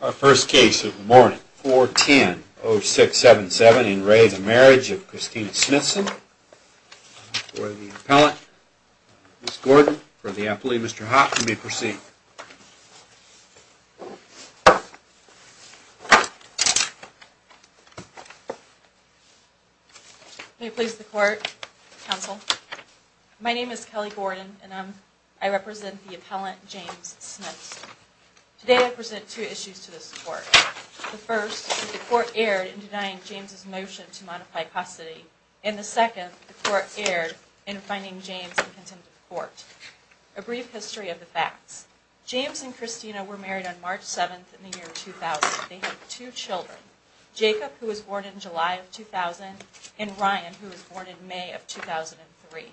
Our first case of the morning, 410-0677 in re the Marriage of Kristina Smithson, for the appellant, Ms. Gordon, for the appellee, Mr. Hopp, you may proceed. May it please the court, counsel. My name is Kelly Gordon, and I represent the appellant, James Smiths. Today I present two issues to this court. The first, the court erred in denying James' motion to modify paucity, and the second, the court erred in finding James in contempt of court. A brief history of the facts. James and Kristina were married on March 7th in the year 2000. They had two children, Jacob, who was born in July of 2000, and Ryan, who was born in May of 2003.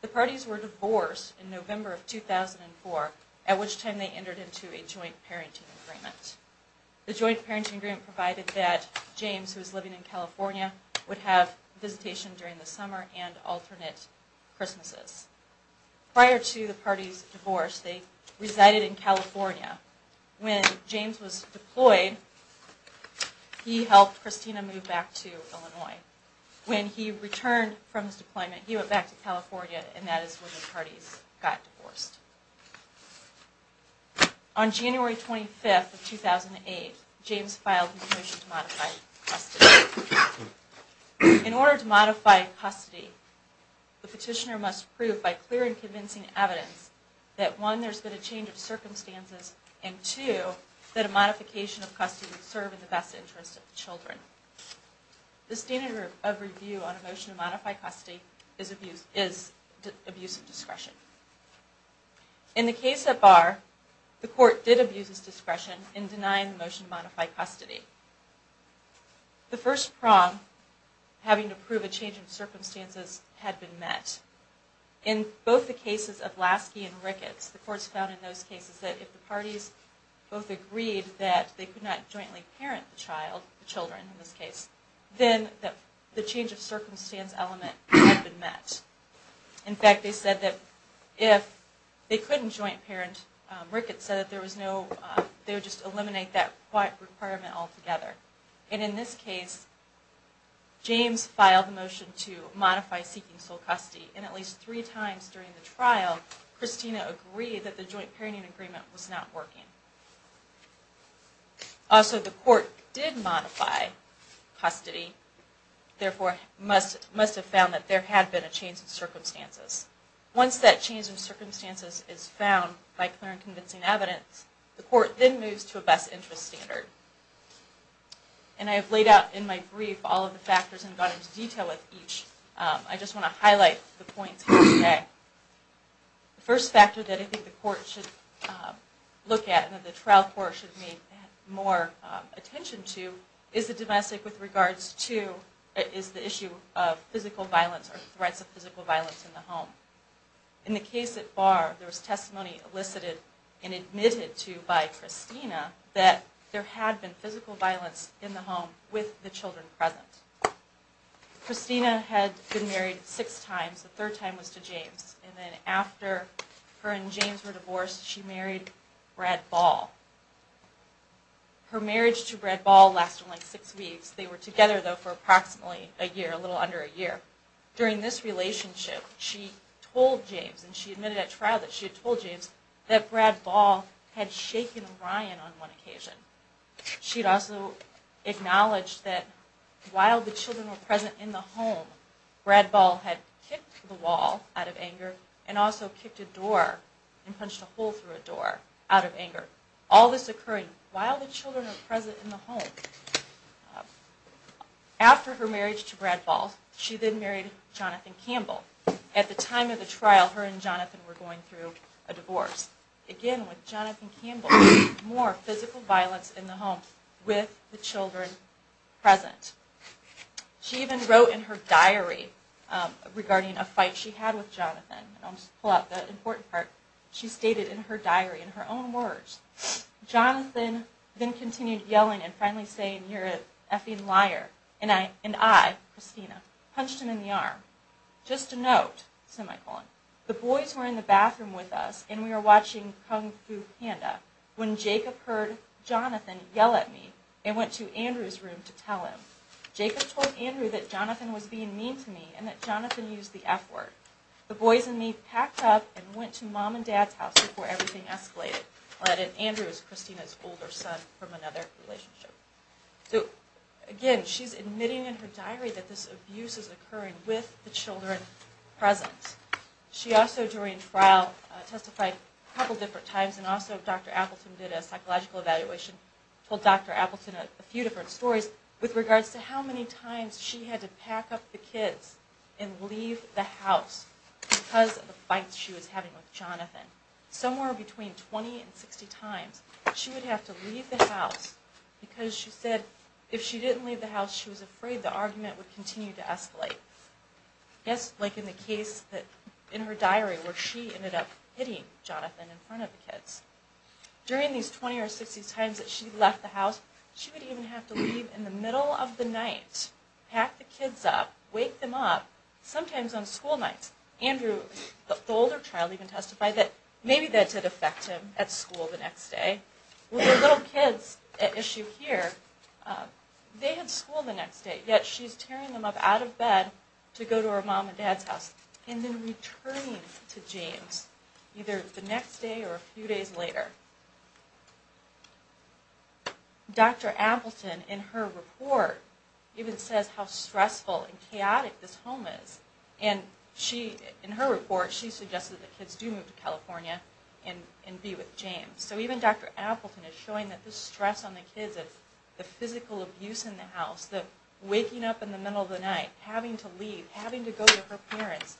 The parties were divorced in November of 2004, at which time they entered into a joint parenting agreement. The joint parenting agreement provided that James, who was living in California, would have visitation during the summer and alternate Christmases. Prior to the parties' divorce, they resided in California. When James was deployed, he helped Kristina move back to Illinois. When he returned from his deployment, he went back to California, and that is when the parties got divorced. On January 25th of 2008, James filed his motion to modify custody. In order to modify custody, the petitioner must prove by clear and convincing evidence that one, there has been a change of circumstances, and two, that a modification of custody would serve in the best interest of the children. The standard of review on a motion to modify custody is abuse of discretion. In the case at Barr, the court did abuse its discretion in denying the motion to modify custody. The first prong, having to prove a change of circumstances, had been met. In both the cases of Lasky and Ricketts, the courts found in those cases that if the parties both agreed that they could not jointly parent the child, the children in this case, then the change of circumstance element had been met. In fact, they said that if they couldn't joint parent Ricketts, they would just eliminate that requirement altogether. And in this case, James filed a motion to modify seeking sole custody, and at least three times during the trial, Kristina agreed that the joint parenting agreement was not working. Also, the court did modify custody, therefore must have found that there had been a change of circumstances. Once that change of circumstances is found by clear and convincing evidence, the court then moves to a best interest standard. And I have laid out in my brief all of the factors and gone into detail with each. I just want to highlight the points here today. The first factor that I think the court should look at and that the trial court should pay more attention to is the domestic with regards to, is the issue of physical violence or threats of physical violence in the home. In the case at Barr, there was testimony elicited and admitted to by Kristina that there had been physical violence in the home with the children present. Kristina had been married six times. The third time was to James. And then after her and James were divorced, she married Brad Ball. Her marriage to Brad Ball lasted only six weeks. They were together, though, for approximately a year, a little under a year. During this relationship, she told James and she admitted at trial that she had told James that Brad Ball had shaken Ryan on one occasion. She had also acknowledged that while the children were present in the home, Brad Ball had kicked the wall out of anger and also kicked a door and punched a hole through a door out of anger. All this occurred while the children were present in the home. After her marriage to Brad Ball, she then married Jonathan Campbell. At the time of the trial, her and Jonathan were going through a divorce. Again, with Jonathan Campbell, more physical violence in the home with the children present. She even wrote in her diary regarding a fight she had with Jonathan. I'll just pull out the important part. She stated in her diary, in her own words, Jonathan then continued yelling and finally saying, you're an effing liar. And I, Christina, punched him in the arm. Just a note, semicolon. The boys were in the bathroom with us and we were watching Kung Fu Panda when Jacob heard Jonathan yell at me and went to Andrew's room to tell him. Jacob told Andrew that Jonathan was being mean to me and that Jonathan used the F word. The boys and me packed up and went to Mom and Dad's house before everything escalated. Andrew was Christina's older son from another relationship. Again, she's admitting in her diary that this abuse is occurring with the children present. She also, during trial, testified a couple different times and also Dr. Appleton did a psychological evaluation and told Dr. Appleton a few different stories with regards to how many times she had to pack up the kids and leave the house because of the fights she was having with Jonathan. Somewhere between 20 and 60 times she would have to leave the house because she said if she didn't leave the house she was afraid the argument would continue to escalate. Just like in the case in her diary where she ended up hitting Jonathan in front of the kids. During these 20 or 60 times that she left the house, she would even have to leave in the middle of the night, pack the kids up, wake them up, sometimes on school nights. Andrew, the older child, even testified that maybe that did affect him at school the next day. With the little kids at issue here, they had school the next day yet she's tearing them up out of bed to go to her Mom and Dad's house and then returning to James either the next day or a few days later. Dr. Appleton, in her report, even says how stressful and chaotic this home is. In her report, she suggests that the kids do move to California and be with James. So even Dr. Appleton is showing that the stress on the kids, the physical abuse in the house, the waking up in the middle of the night, having to leave, having to go to her parents,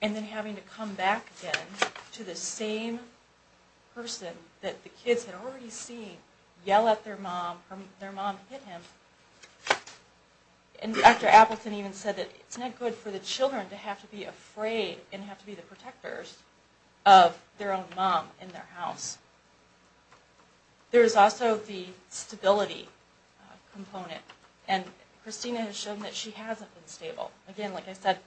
and then having to come back again to the same person that the kids had already seen yell at their Mom, their Mom hit him. And Dr. Appleton even said that it's not good for the children to have to be afraid and have to be the protectors of their own Mom in their house. There is also the stability component and Christina has shown that she hasn't been stable. Again, like I said,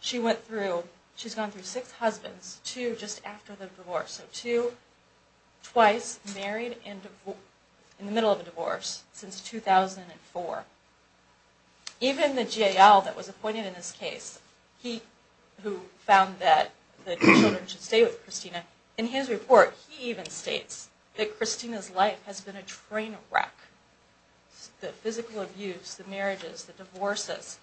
she went through, she's gone through six husbands, two just after the divorce, so two twice married in the middle of a divorce since 2004. Even the GAL that was appointed in this case, he who found that the children should stay with Christina, in his report he even states that Christina's life has been a train wreck. The physical abuse, the marriages, the divorces,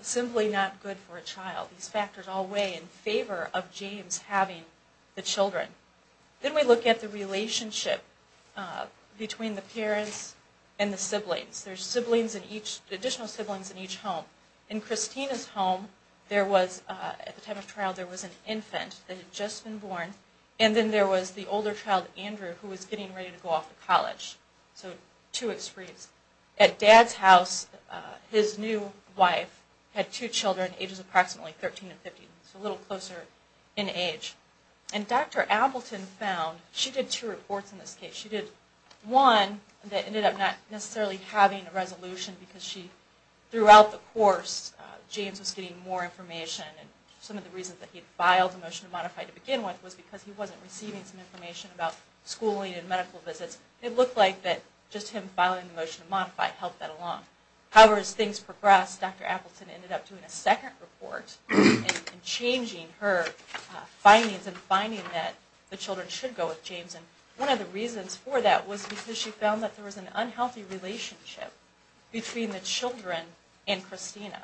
simply not good for a child. These factors all weigh in favor of James having the children. Then we look at the relationship between the parents and the siblings. There's additional siblings in each home. In Christina's home, at the time of trial, there was an infant that had just been born and then there was the older child, Andrew, who was getting ready to go off to college. At Dad's house, his new wife had two children, ages approximately 13 and 15, so a little closer in age. And Dr. Appleton found, she did two reports in this case. She did one that ended up not necessarily having a resolution because she, throughout the course, James was getting more information and some of the reasons that he filed a motion to modify to begin with was because he wasn't receiving some information about schooling and medical visits. It looked like that just him filing the motion to modify helped that along. However, as things progressed, Dr. Appleton ended up doing a second report and changing her findings and finding that the children should go with James. And one of the reasons for that was because she found that there was an unhealthy relationship between the children and Christina.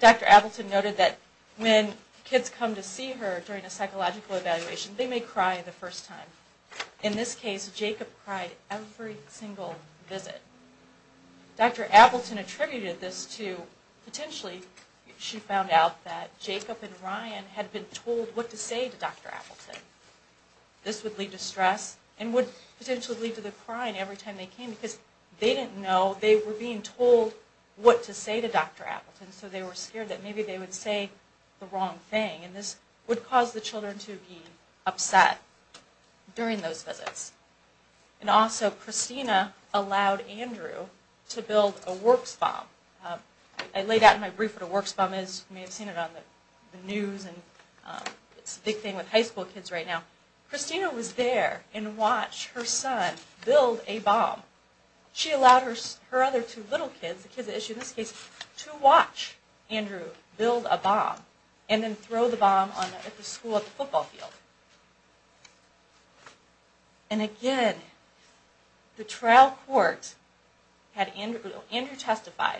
Dr. Appleton noted that when kids come to see her during a psychological evaluation, they may cry the first time. In this case, Jacob cried every single visit. Dr. Appleton attributed this to, potentially, she found out that Jacob and Ryan had been told what to say to Dr. Appleton. This would lead to stress and would potentially lead to them crying every time they came because they didn't know they were being told what to say to Dr. Appleton. So they were scared that maybe they would say the wrong thing and this would cause the children to be upset. And also, Christina allowed Andrew to build a works bomb. I laid out in my brief what a works bomb is. You may have seen it on the news. It's a big thing with high school kids right now. Christina was there and watched her son build a bomb. She allowed her other two little kids, the kids that issued this case, to watch Andrew build a bomb and then throw the bomb at the school football field. And again, the trial court had Andrew testify.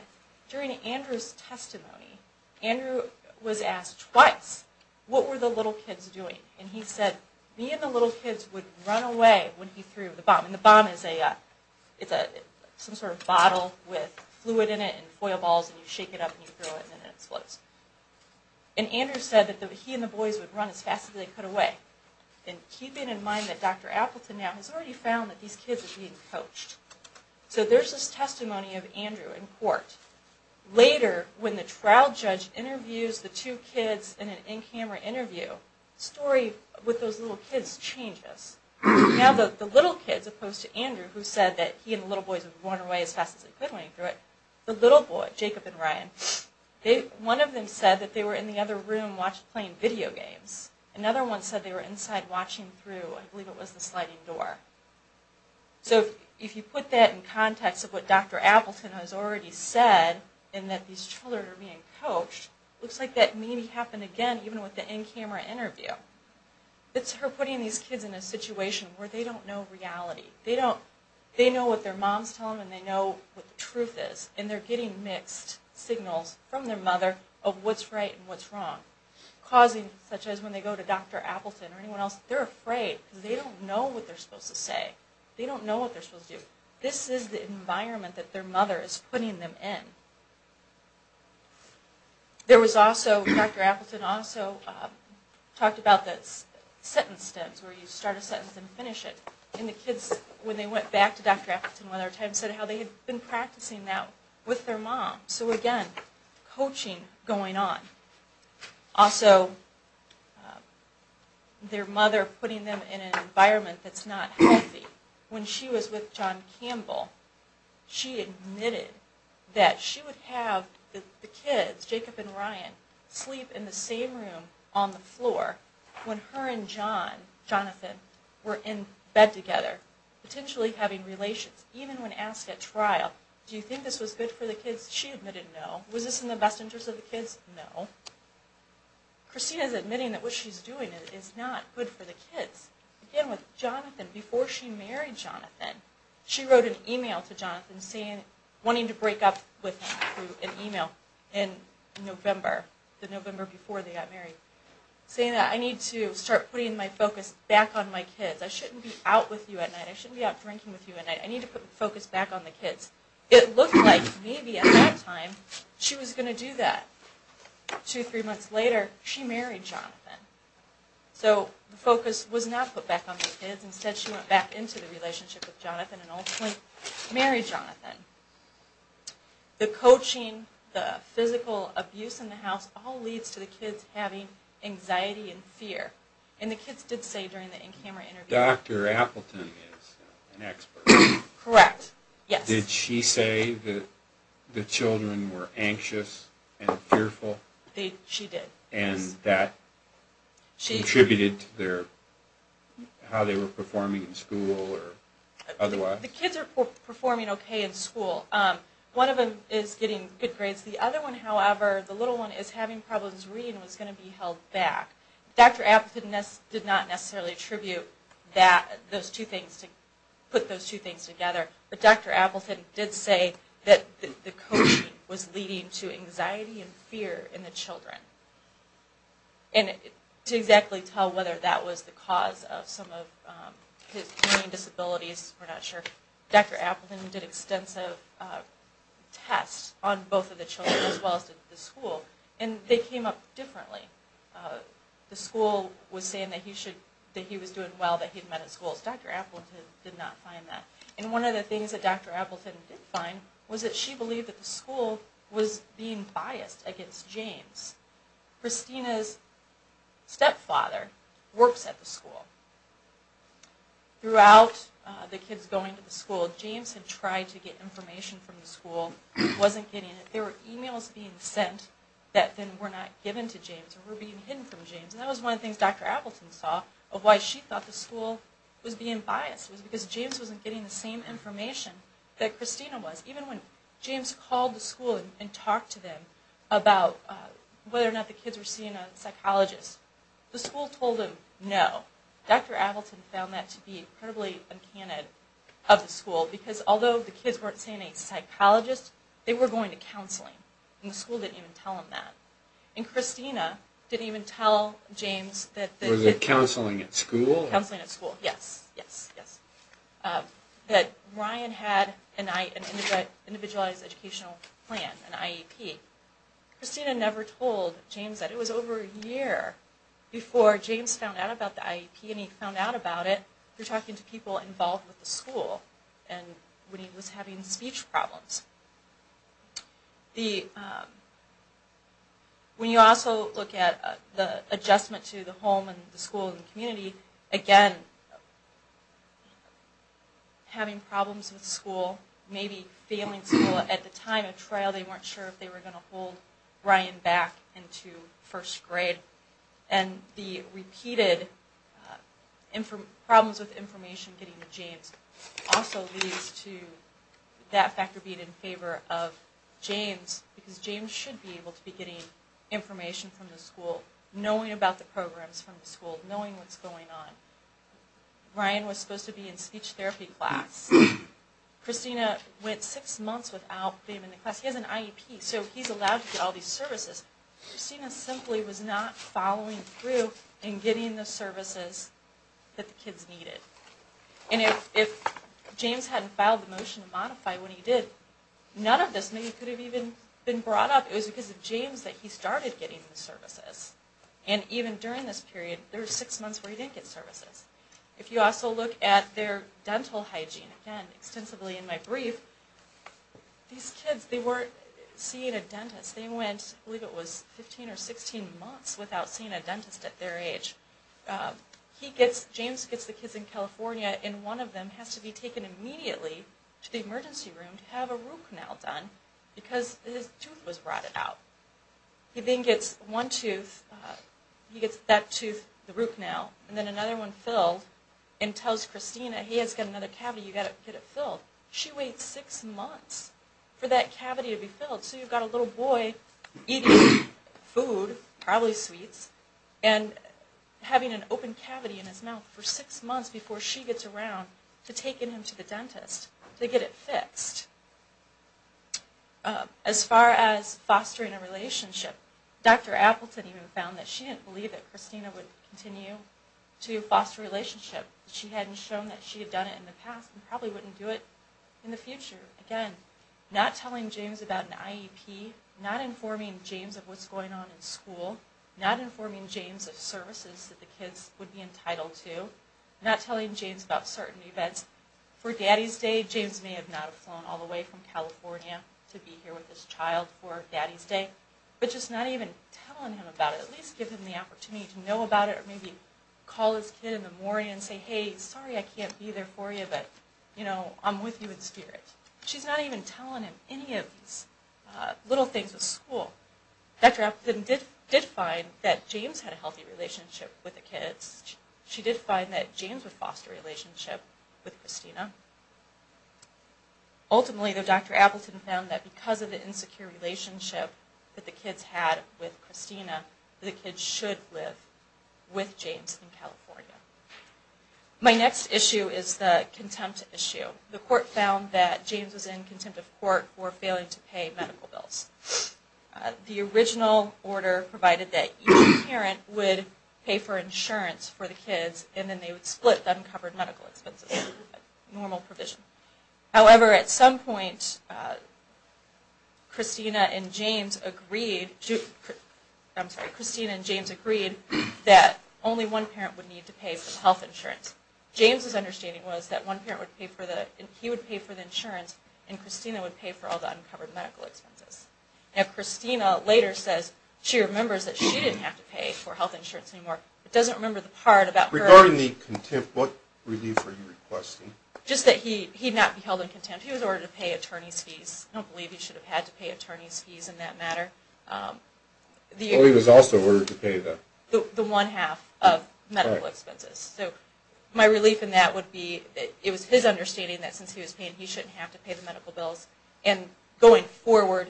During Andrew's testimony, Andrew was asked twice, what were the little kids doing? And he said, me and the little kids would run away when he threw the bomb. And the bomb is some sort of bottle with fluid in it and foil balls. And you shake it up and throw it and it explodes. And Andrew said that he and the boys would run as fast as they could away. And keeping in mind that Dr. Appleton now has already found that these kids are being coached. So there's this testimony of Andrew in court. Later, when the trial judge interviews the two kids in an in-camera interview, the story with those little kids changes. Now the little kids opposed to Andrew who said that he and the little boys would run away as fast as they could when he threw it. The little boy, Jacob and Ryan, one of them said that they were in the other room playing video games. Another one said they were inside watching through, I believe it was the sliding door. So if you put that in context of what Dr. Appleton has already said and that these children are being coached, it looks like that maybe happened again even with the in-camera interview. It's her putting these kids in a situation where they don't know reality. They know what their moms tell them and they know what the truth is. And they're getting mixed signals from their mother of what's right and what's wrong. Causing such as when they go to Dr. Appleton or anyone else, they're afraid because they don't know what they're supposed to say. They don't know what they're supposed to do. This is the environment that their mother is putting them in. There was also, Dr. Appleton also talked about the sentence stems where you start a sentence and finish it. And the kids, when they went back to Dr. Appleton one other time, said how they had been practicing that with their mom. So again, coaching going on. Also, their mother putting them in an environment that's not healthy. When she was with John Campbell, she admitted that she would have the kids, Jacob and Ryan, sleep in the same room on the floor when her and John, Jonathan, were in bed together. Potentially having relations. Even when asked at trial, do you think this was good for the kids? She admitted no. Was this in the best interest of the kids? No. Christina's admitting that what she's doing is not good for the kids. Jonathan, before she married Jonathan, she wrote an email to Jonathan wanting to break up with him. An email in November. The November before they got married. Saying that I need to start putting my focus back on my kids. I shouldn't be out with you at night. I shouldn't be out drinking with you at night. I need to put the focus back on the kids. It looked like maybe at that time she was going to do that. Two or three months later, she married Jonathan. So the focus was not put back on the kids. Instead she went back into the relationship with Jonathan. And ultimately married Jonathan. The coaching, the physical abuse in the house, all leads to the kids having anxiety and fear. And the kids did say during the in-camera interview... Dr. Appleton is an expert. Correct. Yes. Did she say that the children were anxious and fearful? She did. And that contributed to how they were performing in school or otherwise? The kids are performing okay in school. One of them is getting good grades. The other one, however, the little one is having problems reading and was going to be held back. Dr. Appleton did not necessarily attribute those two things. But Dr. Appleton did say that the coaching was leading to anxiety and fear in the children. And to exactly tell whether that was the cause of some of his learning disabilities, we're not sure. Dr. Appleton did extensive tests on both of the children as well as the school. And they came up differently. The school was saying that he was doing well, that he had met at school. Dr. Appleton did not find that. And one of the things that Dr. Appleton did find was that she believed that the school was being biased against James. Christina's stepfather works at the school. Throughout the kids going to the school, James had tried to get information from the school. It wasn't getting it. There were emails being sent that then were not given to James or were being hidden from James. And that was one of the things Dr. Appleton saw of why she thought the school was being biased. It was because James wasn't getting the same information that Christina was. Even when James called the school and talked to them about whether or not the kids were seeing a psychologist, the school told him no. Dr. Appleton found that to be incredibly uncanny of the school. Because although the kids weren't seeing a psychologist, they were going to counseling. And the school didn't even tell him that. And Christina didn't even tell James that... Was it counseling at school? Counseling at school, yes. That Ryan had an individualized educational plan, an IEP. Christina never told James that. It was over a year before James found out about the IEP. And when he found out about it, he was talking to people involved with the school. And when he was having speech problems. When you also look at the adjustment to the home and the school and the community, again, having problems with school, maybe failing school at the time of trial. They weren't sure if they were going to hold Ryan back into first grade. And the repeated problems with information getting to James also leads to that factor being in favor of James. Because James should be able to be getting information from the school, knowing about the programs from the school, knowing what's going on. Ryan was supposed to be in speech therapy class. Christina went six months without being in the class. He has an IEP, so he's allowed to get all these services. Christina simply was not following through in getting the services that the kids needed. And if James hadn't filed the motion to modify when he did, none of this maybe could have even been brought up. It was because of James that he started getting the services. And even during this period, there were six months where he didn't get services. If you also look at their dental hygiene, again, extensively in my brief, these kids, they weren't seeing a dentist. They went, I believe it was 15 or 16 months without seeing a dentist at their age. He gets, James gets the kids in California, and one of them has to be taken immediately to the emergency room to have a root canal done, because his tooth was rotted out. He then gets one tooth, he gets that tooth, the root canal, and then another one filled, and tells Christina, he has got another cavity, you've got to get it filled. She waits six months for that cavity to be filled. So you've got a little boy eating food, probably sweets, and having an open cavity in his mouth for six months before she gets around to taking him to the dentist to get it fixed. As far as fostering a relationship, Dr. Appleton even found that she didn't believe that Christina would continue to foster a relationship. She hadn't shown that she had done it in the past, and probably wouldn't do it in the future. Again, not telling James about an IEP, not informing James of what's going on in school, not informing James of services that the kids would be entitled to, not telling James about certain events. For Daddy's Day, James may have not have flown all the way from California to be here with his child for Daddy's Day, but just not even telling him about it. At least give him the opportunity to know about it, maybe call his kid in the morning and say, hey, sorry I can't be there for you, but, you know, I'm with you in spirit. She's not even telling him any of these little things with school. Dr. Appleton did find that James had a healthy relationship with the kids. She did find that James would foster a relationship with Christina. Ultimately, though, Dr. Appleton found that because of the insecure relationship that the kids had with Christina, the kids should live with James in California. My next issue is the contempt issue. The court found that James was in contempt of court for failing to pay medical bills. The original order provided that each parent would pay for insurance for the kids, and then they would split uncovered medical expenses. Normal provision. However, at some point, Christina and James agreed that only one parent would need to pay for the health insurance. James's understanding was that one parent would pay for the, he would pay for the insurance, and Christina would pay for all the uncovered medical expenses. Now Christina later says she remembers that she didn't have to pay for health insurance anymore, but doesn't remember the part about her... Regarding the contempt, what relief are you requesting? Just that he not be held in contempt. He was ordered to pay attorney's fees. I don't believe he should have had to pay attorney's fees in that matter. Oh, he was also ordered to pay the... The one half of medical expenses. So my relief in that would be that it was his understanding that since he was paying, he shouldn't have to pay the medical bills. And going forward,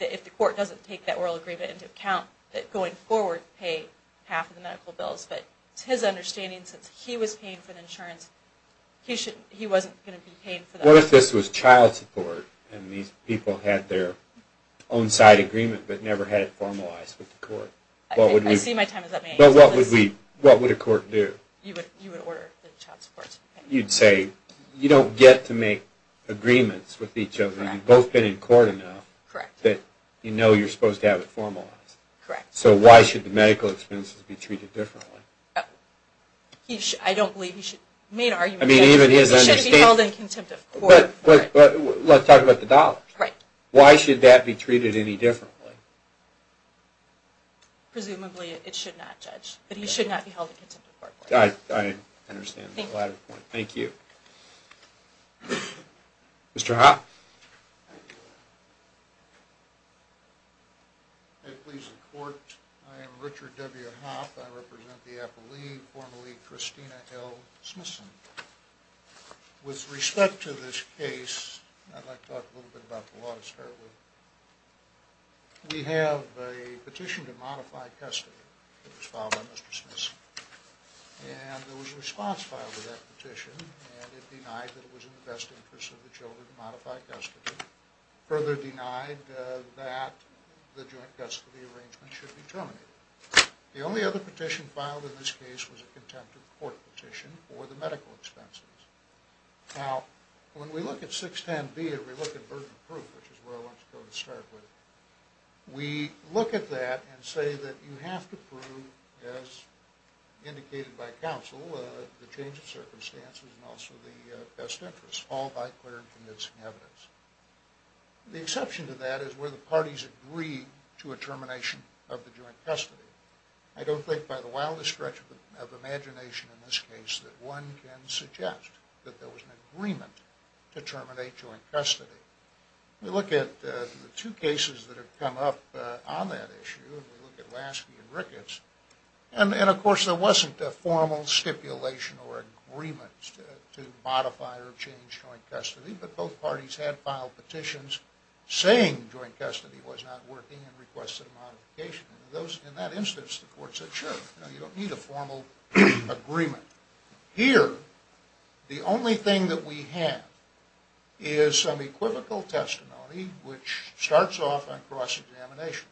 if the court doesn't take that oral agreement into account, that going forward, pay half of the medical bills. But it's his understanding since he was paying for the insurance, he wasn't going to be held in contempt of court, and these people had their own side agreement, but never had it formalized with the court. But what would a court do? You'd say, you don't get to make agreements with each other. You've both been in court enough that you know you're supposed to have it formalized. So why should the medical expenses be treated differently? I don't believe he should... I mean, even his understanding... Let's talk about the dollars. Why should that be treated any differently? Presumably, it should not, Judge. But he should not be held in contempt of court. Thank you. Mr. Hoppe. I am Richard W. Hoppe. I represent the Appalachian formerly Christina L. Smithson. With respect to this case, I'd like to talk a little bit about the law to start with. We have a petition to modify custody that was filed by Mr. Smithson. And there was a response filed to that petition, and it denied that it was in the best interest of the children to modify custody. Further denied that the joint custody arrangement should be terminated. The only other petition filed in this case was a contempt of court petition for the medical expenses. Now, when we look at 610B and we look at burden of proof, which is where I want to go to start with, we look at that and say that you have to prove as indicated by counsel, the change of circumstances and also the best interest, all by clear and convincing evidence. The exception to that is where the parties agree to a termination of custody. I don't think by the wildest stretch of imagination in this case that one can suggest that there was an agreement to terminate joint custody. We look at the two cases that have come up on that issue, and we look at Lasky and Ricketts. And of course there wasn't a formal stipulation or agreement to modify or change joint custody, but both parties had filed petitions saying joint custody was not working and requested a modification. In that instance, the court said, sure, you don't need a formal agreement. Here, the only thing that we have is some equivocal testimony which starts off on cross-examination.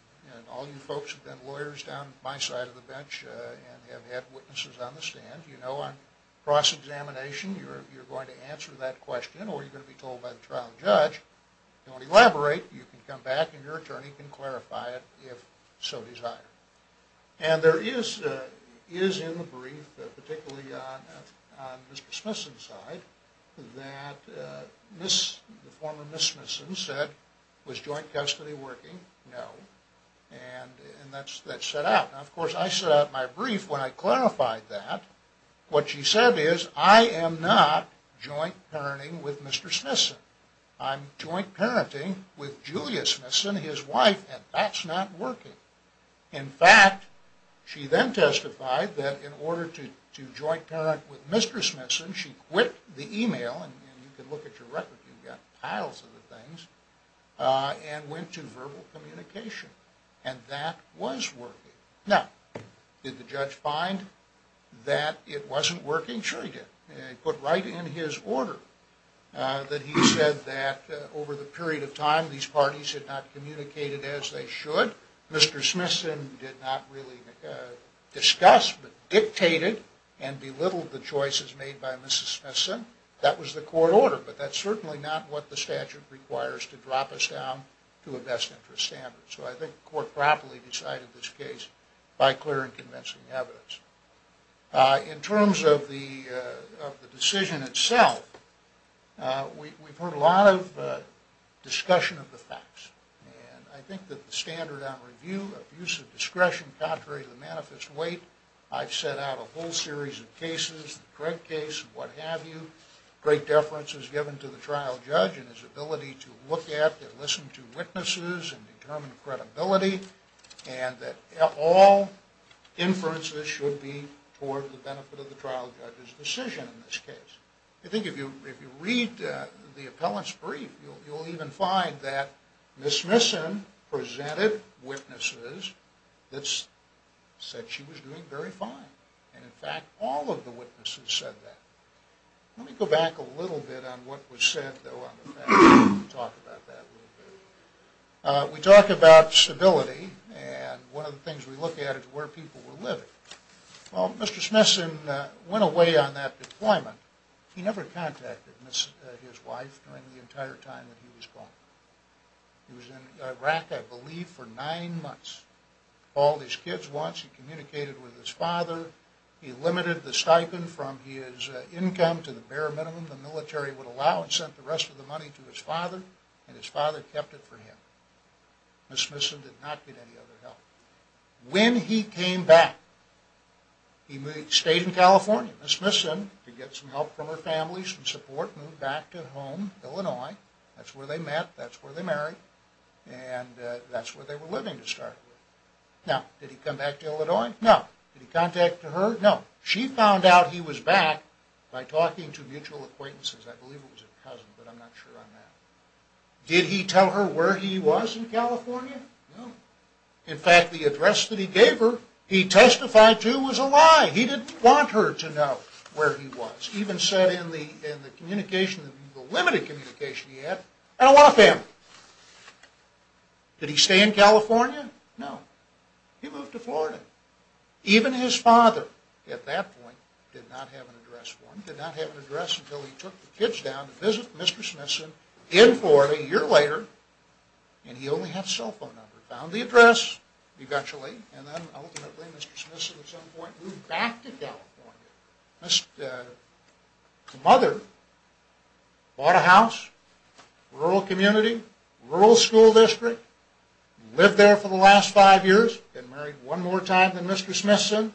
All you folks who have been lawyers down at my side of the bench and have had witnesses on the stand, you know on cross-examination you're going to answer that question or you're going to be told by the trial judge, don't elaborate, you can come back and your attorney can clarify it if so desired. And there is in the brief, particularly on Mr. Smithson's side, that the former Miss Smithson said, was joint custody working? No. And that's set out. Now of course I set out my brief when I clarified that. What she said is I am not joint parenting with Mr. Smithson. I'm joint parenting with Julia Smithson, his wife, and that's not working. In fact, she then testified that in order to joint parent with Mr. Smithson she quit the email, and you can look at your record, you've got piles of the things, and went to verbal communication. And that was working. Now, did the judge find that it wasn't working? Sure he did. He put right in his court order that he said that over the period of time these parties had not communicated as they should. Mr. Smithson did not really discuss but dictated and belittled the choices made by Mrs. Smithson. That was the court order but that's certainly not what the statute requires to drop us down to a best interest standard. So I think the court properly decided this case by clear and convincing evidence. In terms of the decision itself, we've heard a lot of discussion of the facts, and I think that the standard on review of use of discretion contrary to the manifest weight, I've set out a whole series of cases, the Craig case and what have you, great deference is given to the trial judge and his ability to look at and listen to witnesses and determine credibility, and that all inferences should be toward the benefit of the trial judge's decision in this case. I think if you read the appellant's brief, you'll even find that Mrs. Smithson presented witnesses that said she was doing very fine, and in fact all of the witnesses said that. Let me go back a little bit on what was said, though, on the facts and talk about that a little bit. We talk about stability, and one of the things we look at is where people were living. Well, Mr. Smithson went away on that deployment. He never contacted his wife during the entire time that he was gone. He was in Iraq, I believe, for nine months. He called his kids once, he communicated with his father, he limited the stipend from his income to the bare minimum the military would allow and sent the rest of the money to his father, and his father kept it for him. Mrs. Smithson did not get any other help. When he came back, he stayed in California. Mrs. Smithson, to get some help from her family, some support, moved back to home, Illinois. That's where they met, that's where they married, and that's where they were living to start with. Now, did he come back to Illinois? No. Did he contact her? No. She found out he was back by talking to mutual acquaintances. I believe it was a cousin, but I'm not sure on that. Did he tell her where he was in California? No. In fact, the address that he gave her he testified to was a lie. He didn't want her to know where he was. He even said in the communication, the limited communication he had, I don't want a family. Did he stay in California? No. He moved to Florida. Even his father at that point did not have an address for him, did not have an address until he took the kids down to visit Mrs. Smithson in Florida a year later and he only had a cell phone number. He found the address, eventually, and then ultimately Mr. Smithson at some point moved back to California. His mother bought a house, rural community, rural school district, lived there for the last five years, then married one more time than Mr. Smithson.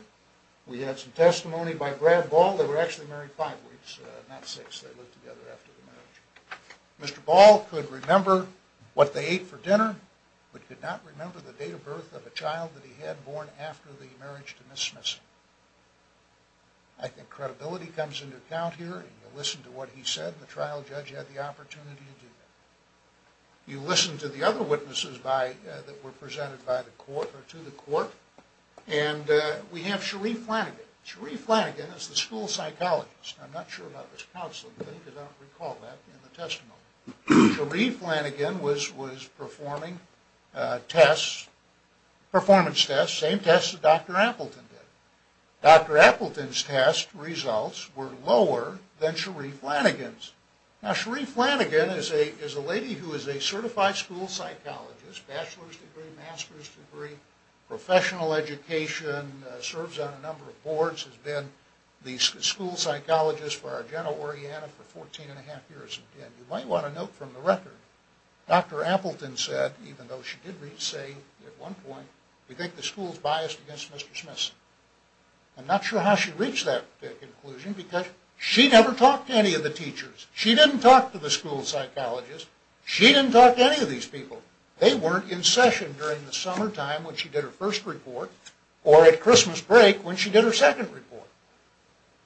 We have some testimony by Brad Ball, they were actually married five weeks, not six, they lived together after the marriage. Mr. Ball could remember what they ate for dinner but could not remember the date of birth of a child that he had born after the marriage to Mrs. Smithson. I think credibility comes into account here. If you listen to what he said, the trial judge had the opportunity to do that. You listen to the other witnesses by, that were presented by the court, or to the court, and we have Cherie Flanagan. Cherie Flanagan is the school psychologist. I'm not sure about this because I don't recall that in the testimony. Cherie Flanagan was performing tests, performance tests, same tests that Dr. Appleton did. Dr. Appleton's test results were lower than Cherie Flanagan's. Now Cherie Flanagan is a lady who is a certified school psychologist, bachelor's degree, master's degree, professional education, serves on a number of boards, has been the head of Arianna for 14 and a half years. You might want to note from the record Dr. Appleton said, even though she did say at one point we think the school is biased against Mr. Smithson. I'm not sure how she reached that conclusion because she never talked to any of the teachers. She didn't talk to the school psychologist. She didn't talk to any of these people. They weren't in session during the summertime when she did her first report or at Christmas break when she did her second report.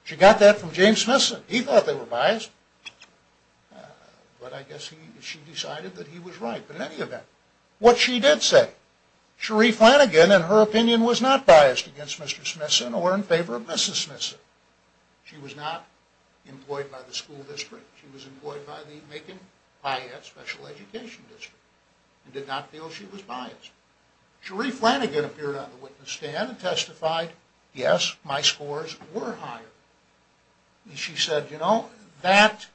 She got that from James Smithson. He thought they were biased. But I guess she decided that he was right. But in any event, what she did say, Cherie Flanagan in her opinion was not biased against Mr. Smithson or in favor of Mrs. Smithson. She was not employed by the school district. She was employed by the Macon-Piatt Special Education District and did not feel she was biased. Cherie Flanagan appeared on the witness stand and testified yes, my scores were higher. She said you know, that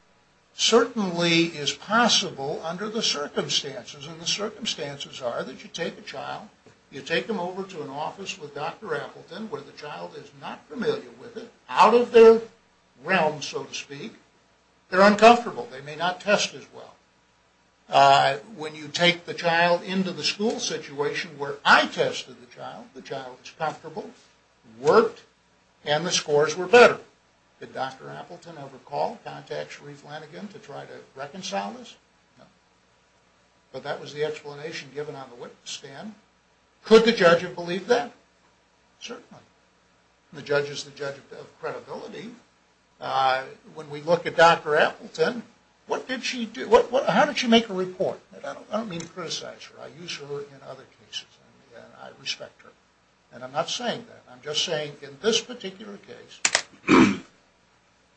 certainly is possible under the circumstances and the circumstances are that you take a child you take them over to an office with Dr. Appleton where the child is not familiar with it, out of their realm so to speak they're uncomfortable. They may not test as well. When you take the child into the school situation where I tested the child the child was comfortable, worked, and the scores were better. Did Dr. Appleton ever call, contact Cherie Flanagan to try to reconcile this? No. But that was the explanation given on the witness stand. Could the judge have believed that? Certainly. The judge is the judge of credibility. When we look at Dr. Appleton, what did she do? How did she make a report? I don't mean to criticize her. I use her in other cases and I respect her. And I'm not saying that. I'm just saying in this particular case,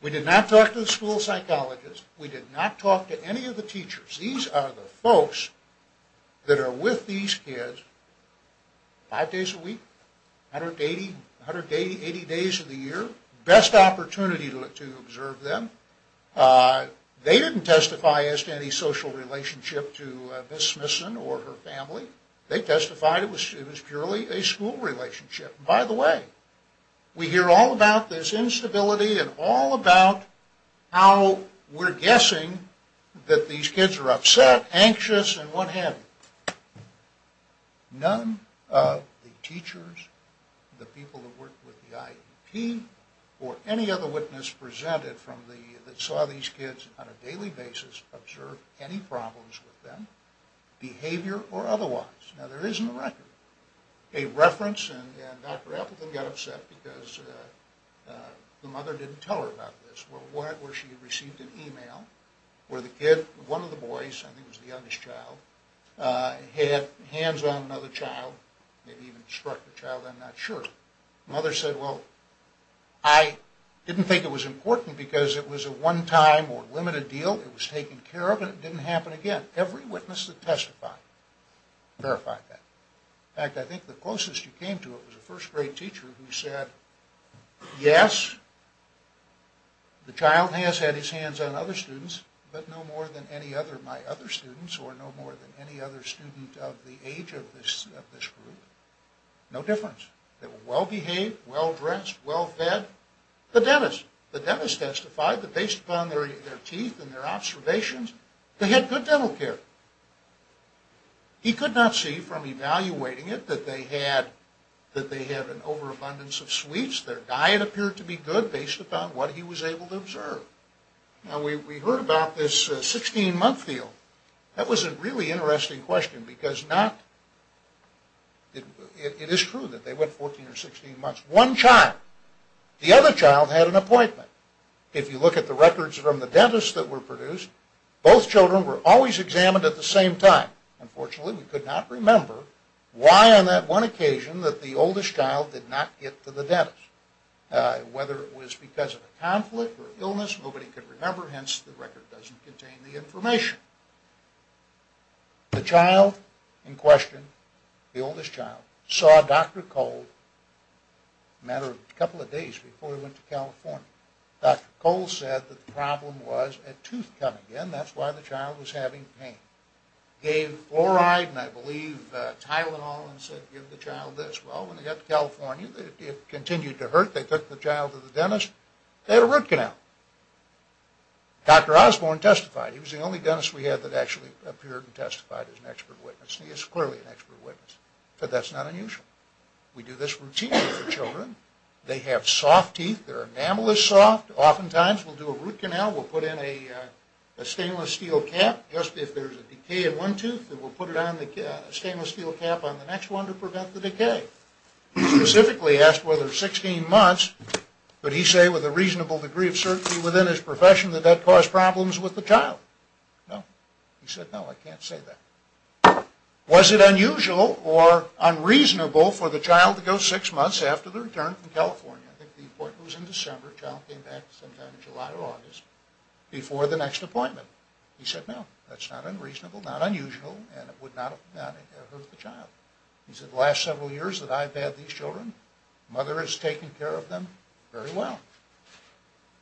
we did not talk to the school psychologist. We did not talk to any of the teachers. These are the folks that are with these kids five days a week, 180 days of the year. Best opportunity to observe them. They didn't testify as to any social relationship to Miss Flanagan. They didn't testify. It was purely a school relationship. By the way, we hear all about this instability and all about how we're guessing that these kids are upset, anxious, and what have you. None of the teachers, the people who worked with the IEP, or any other witness presented that saw these kids on a daily basis observed any problems with them behavior or otherwise. Now, there is in the record a reference, and Dr. Appleton got upset because the mother didn't tell her about this, where she received an email where the kid, one of the boys, I think it was the youngest child, had hands on another child, maybe even struck the child, I'm not sure. The mother said, well, I didn't think it was important because it was a one-time or limited deal. It was taken care of and it didn't happen again. Every witness that testified verified that. In fact, I think the closest you came to it was a first-grade teacher who said, yes, the child has had his hands on other students, but no more than any other of my other students or no more than any other student of the age of this group. No difference. They were well-behaved, well-dressed, well-fed. The dentist testified that based upon their teeth and their observations, they had good dental care. He could not see from evaluating it that they had an overabundance of sweets. Their diet appeared to be good based upon what he was able to observe. Now, we heard about this 16-month deal. That was a really interesting question because not, it is true that they went 14 or 16 months. One child, the other child had an appointment. If you look at the records from the dentist that were produced, both children were always examined at the same time. Unfortunately, we could not remember why on that one occasion that the oldest child did not get to the dentist. Whether it was because of a conflict or illness, nobody could remember. Hence, the record doesn't contain the information. The child in question, the oldest child, saw a doctor called a matter of a couple of days before he went to California. Dr. Cole said the problem was a tooth coming in. That is why the child was having pain. Gave fluoride and I believe Tylenol and said give the child this. Well, when they got to California, it continued to hurt. They took the child to the dentist. They had a root canal. Dr. Osborne testified. He was the only dentist we had that actually appeared and testified as an expert witness. He is clearly an expert witness, but that is not unusual. We do this routinely for children. They have soft teeth. Their enamel is soft. Oftentimes, we'll do a root canal. We'll put in a stainless steel cap. Just if there is a decay in one tooth, we'll put a stainless steel cap on the next one to prevent the decay. He specifically asked whether 16 months, could he say with a reasonable degree of certainty within his profession that that caused problems with the child. No. He said no, I can't say that. Was it unusual or unreasonable for the child to go six months after the return from California? I think the appointment was in December. The child came back sometime in July or August before the next appointment. He said no, that's not unreasonable, not unusual, and it would not have hurt the child. He said the last several years that I've had these children, the mother has taken care of them very well.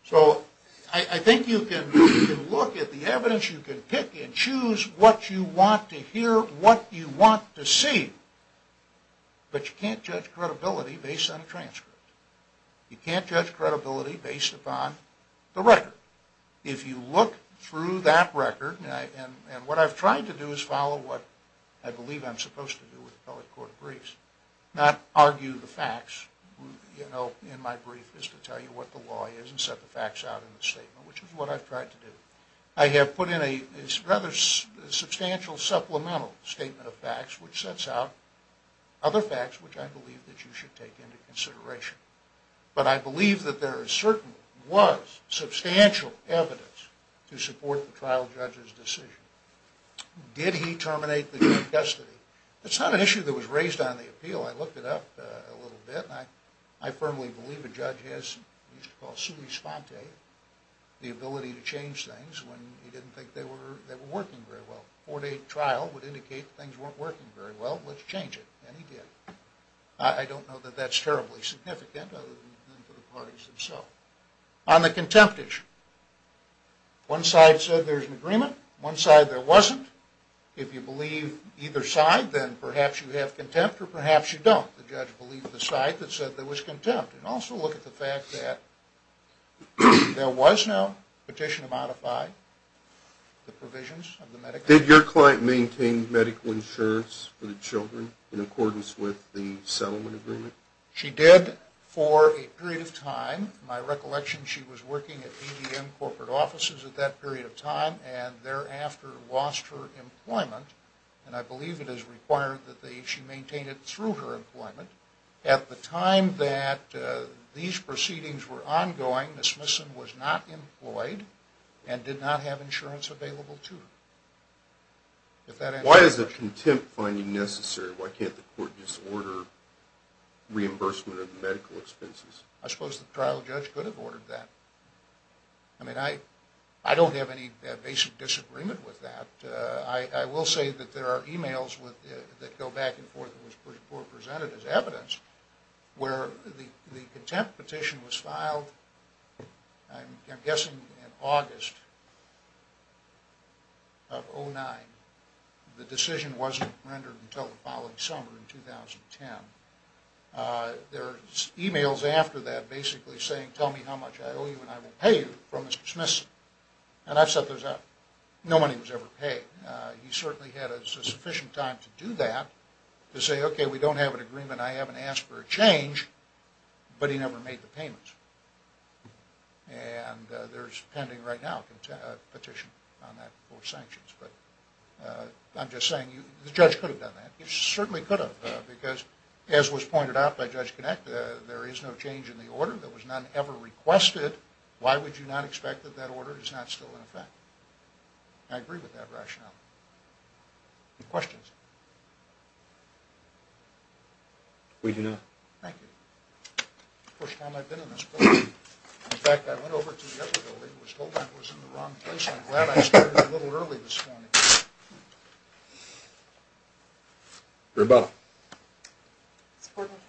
So, I think you can look at the evidence. You can pick and choose what you want to hear, what you want to see, but you can't judge credibility based on a transcript. You can't judge credibility based upon the record. If you look through that record, and what I've tried to do is follow what I believe I'm supposed to do with the appellate court briefs, not argue the facts, you know, in my brief is to tell you what the law is and set the facts out in the statement, which is what I've tried to do. I have put in a rather substantial supplemental statement of facts which sets out other facts which I believe that you should take into consideration. But I believe that there is certain, was, substantial evidence to support the trial judge's decision. Did he terminate the custody? It's not an issue that was raised on the appeal. I looked it up a little bit, and I firmly believe a judge has, what we used to call sui sponte, the ability to change things when he didn't think they were working very well. A four-day trial would indicate things weren't working very well. Let's change it. And he did. I don't know that that's terribly significant other than for the parties themselves. On the contempt issue, one side said there's an agreement, one side there wasn't. If you believe either side, then perhaps you have contempt or perhaps you don't. The judge believed the side that said there was contempt. And also look at the fact that there was no petition to modify the provisions of the Medicaid. Did your client maintain medical insurance for the children in accordance with the settlement agreement? She did for a period of time. My recollection, she was working at EDM corporate offices at that period of time and thereafter lost her employment. And I believe it is required that she maintain it through her employment. At the time that these proceedings were ongoing, Ms. Smithson was not have insurance available to her. Why is the contempt finding necessary? Why can't the court just order reimbursement of medical expenses? I suppose the trial judge could have ordered that. I mean, I don't have any basic disagreement with that. I will say that there are emails that go back and forth that were presented as evidence where the contempt petition was filed, I'm of 2009. The decision wasn't rendered until the following summer in 2010. There are emails after that basically saying, tell me how much I owe you and I will pay you from Mr. Smithson. And I've set those up. No money was ever paid. He certainly had a sufficient time to do that to say, okay, we don't have an agreement. I haven't asked for a change. But he never made the payment. And there's pending right now a petition on that for sanctions. I'm just saying the judge could have done that. He certainly could have because as was pointed out by Judge Kinect, there is no change in the order. There was none ever requested. Why would you not expect that that order is not still in effect? I agree with that rationale. Any questions? We do not. Thank you. First time I've been in this room. In fact, I went over to the other building and was told I was in the wrong place. I'm glad I started a little early this morning. Rebecca.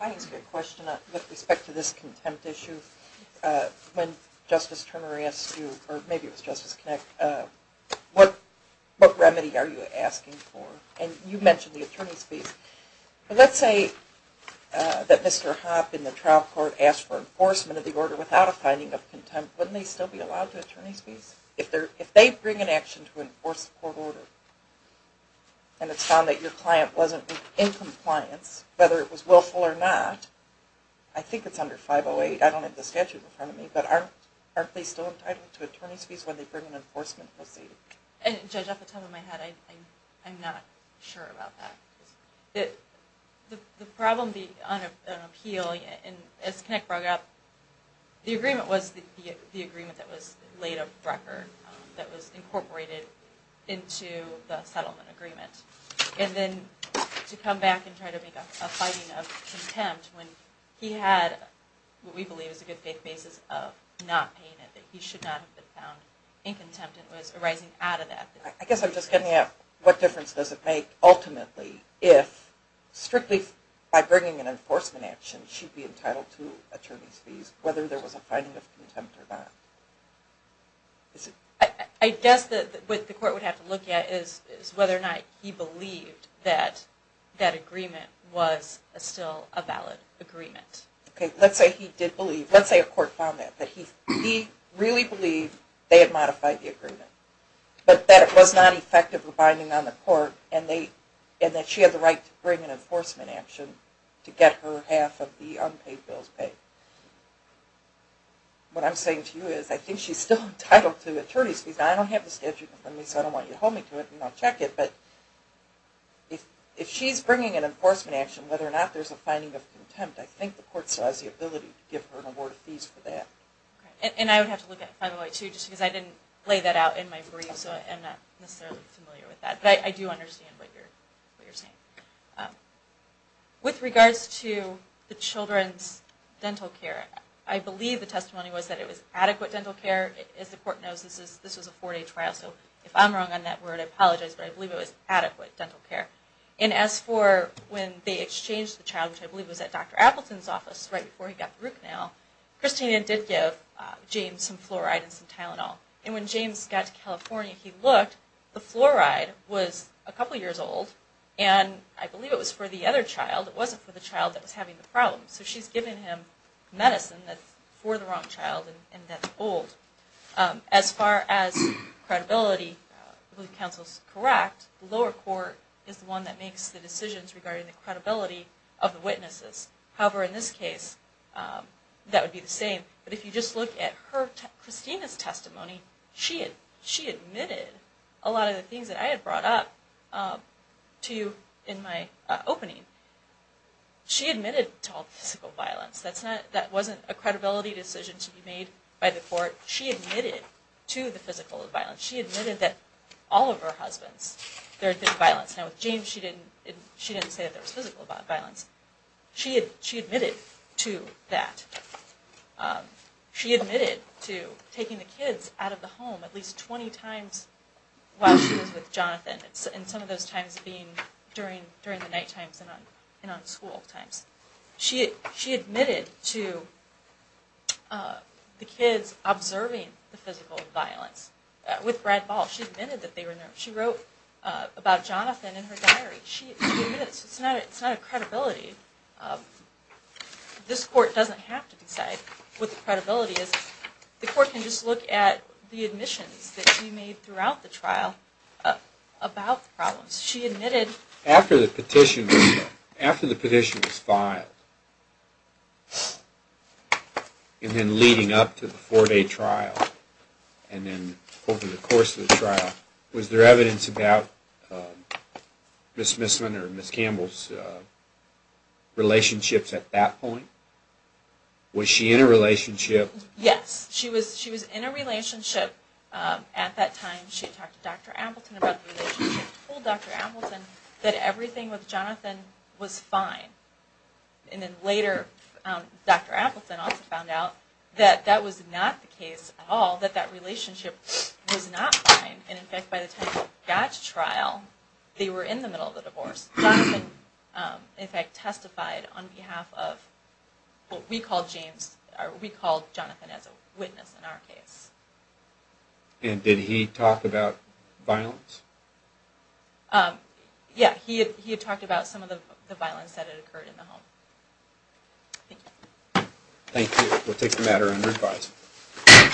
I have a question with respect to this contempt issue. When Justice Turner asked you, or maybe it was Justice Kinect, what remedy are you asking for? And you mentioned the attorney's fees. Let's say that Mr. Hopp in the court order, without a finding of contempt, wouldn't they still be allowed to have attorney's fees? If they bring an action to enforce the court order and it's found that your client wasn't in compliance, whether it was willful or not, I think it's under 508, I don't have the statute in front of me, but aren't they still entitled to attorney's fees when they bring an enforcement proceeding? Judge, off the top of my head, I'm not sure about that. The problem on appeal, as Kinect brought up, the agreement was the agreement that was laid up Brecker, that was incorporated into the settlement agreement. And then to come back and try to make a finding of contempt when he had what we believe is a good faith basis of not paying it, that he should not have been found in contempt, it was arising out of that. I guess I'm just getting at what difference does it make ultimately if strictly if by bringing an enforcement action she'd be entitled to attorney's fees whether there was a finding of contempt or not. I guess what the court would have to look at is whether or not he believed that that agreement was still a valid agreement. Okay, let's say he did believe, let's say a court found that, that he really believed they had modified the agreement. But that it was not effective with binding on the court and that she had the right to bring an enforcement action to get her half of the unpaid bills paid. What I'm saying to you is I think she's still entitled to attorney's fees. Now I don't have the statute with me so I don't want you to hold me to it and not check it, but if she's bringing an enforcement action, whether or not there's a finding of contempt, I think the court still has the ability to give her an award of fees for that. And I would have to look at 508 too just because I didn't lay that out in my brief so I'm not necessarily familiar with that, but I do understand what you're saying. With regards to the children's dental care, I believe the testimony was that it was adequate dental care. As the court knows this was a four day trial so if I'm wrong on that word I apologize, but I believe it was adequate dental care. And as for when they exchanged the child, which I believe was at Dr. Appleton's office right before he got the root canal, Christina did give James some fluoride and some Tylenol. And when James got to California he looked, the fluoride was a couple years old and I believe it was for the other child. It wasn't for the child that was having the problem. So she's giving him medicine that's for the wrong child and that's old. As far as credibility, I believe counsel's correct. The lower court is the one that makes the decisions regarding the credibility of the witnesses. However, in this case that would be the same. But if you just look at her, Christina's testimony, she admitted a lot of the things that I had brought up to you in my opening. She admitted to all the physical violence. That wasn't a credibility decision to be made by the court. She admitted to the physical violence. She admitted that all of her husbands did violence. Now with James she didn't say that there was physical violence. She admitted to that. She admitted to taking the kids out of the home at least 20 times while she was with Jonathan. And some of those times being during the night times and on school times. She admitted to the kids observing the physical violence with Brad Ball. She admitted that they were nervous. She wrote about Jonathan in her diary. She admits it's not a credibility This court doesn't have to decide what the credibility is. The court can just look at the admissions that she made throughout the trial about the problems. After the petition was filed and then leading up to the four day trial and then over the course of the trial, was there evidence about Ms. Misman or Ms. Campbell's relationships at that point? Was she in a relationship? Yes. She was in a relationship at that time. She talked to Dr. Appleton about the relationship. She told Dr. Appleton that everything with Jonathan was fine. And then later Dr. Appleton also found out that that was not the case at all. That that relationship was not fine. And in fact by the time she got to trial they were in the middle of the divorce. Jonathan in fact testified on behalf of what we call Jonathan as a witness in our case. And did he talk about violence? Yes. He had talked about some of the violence that had occurred in the home. Thank you.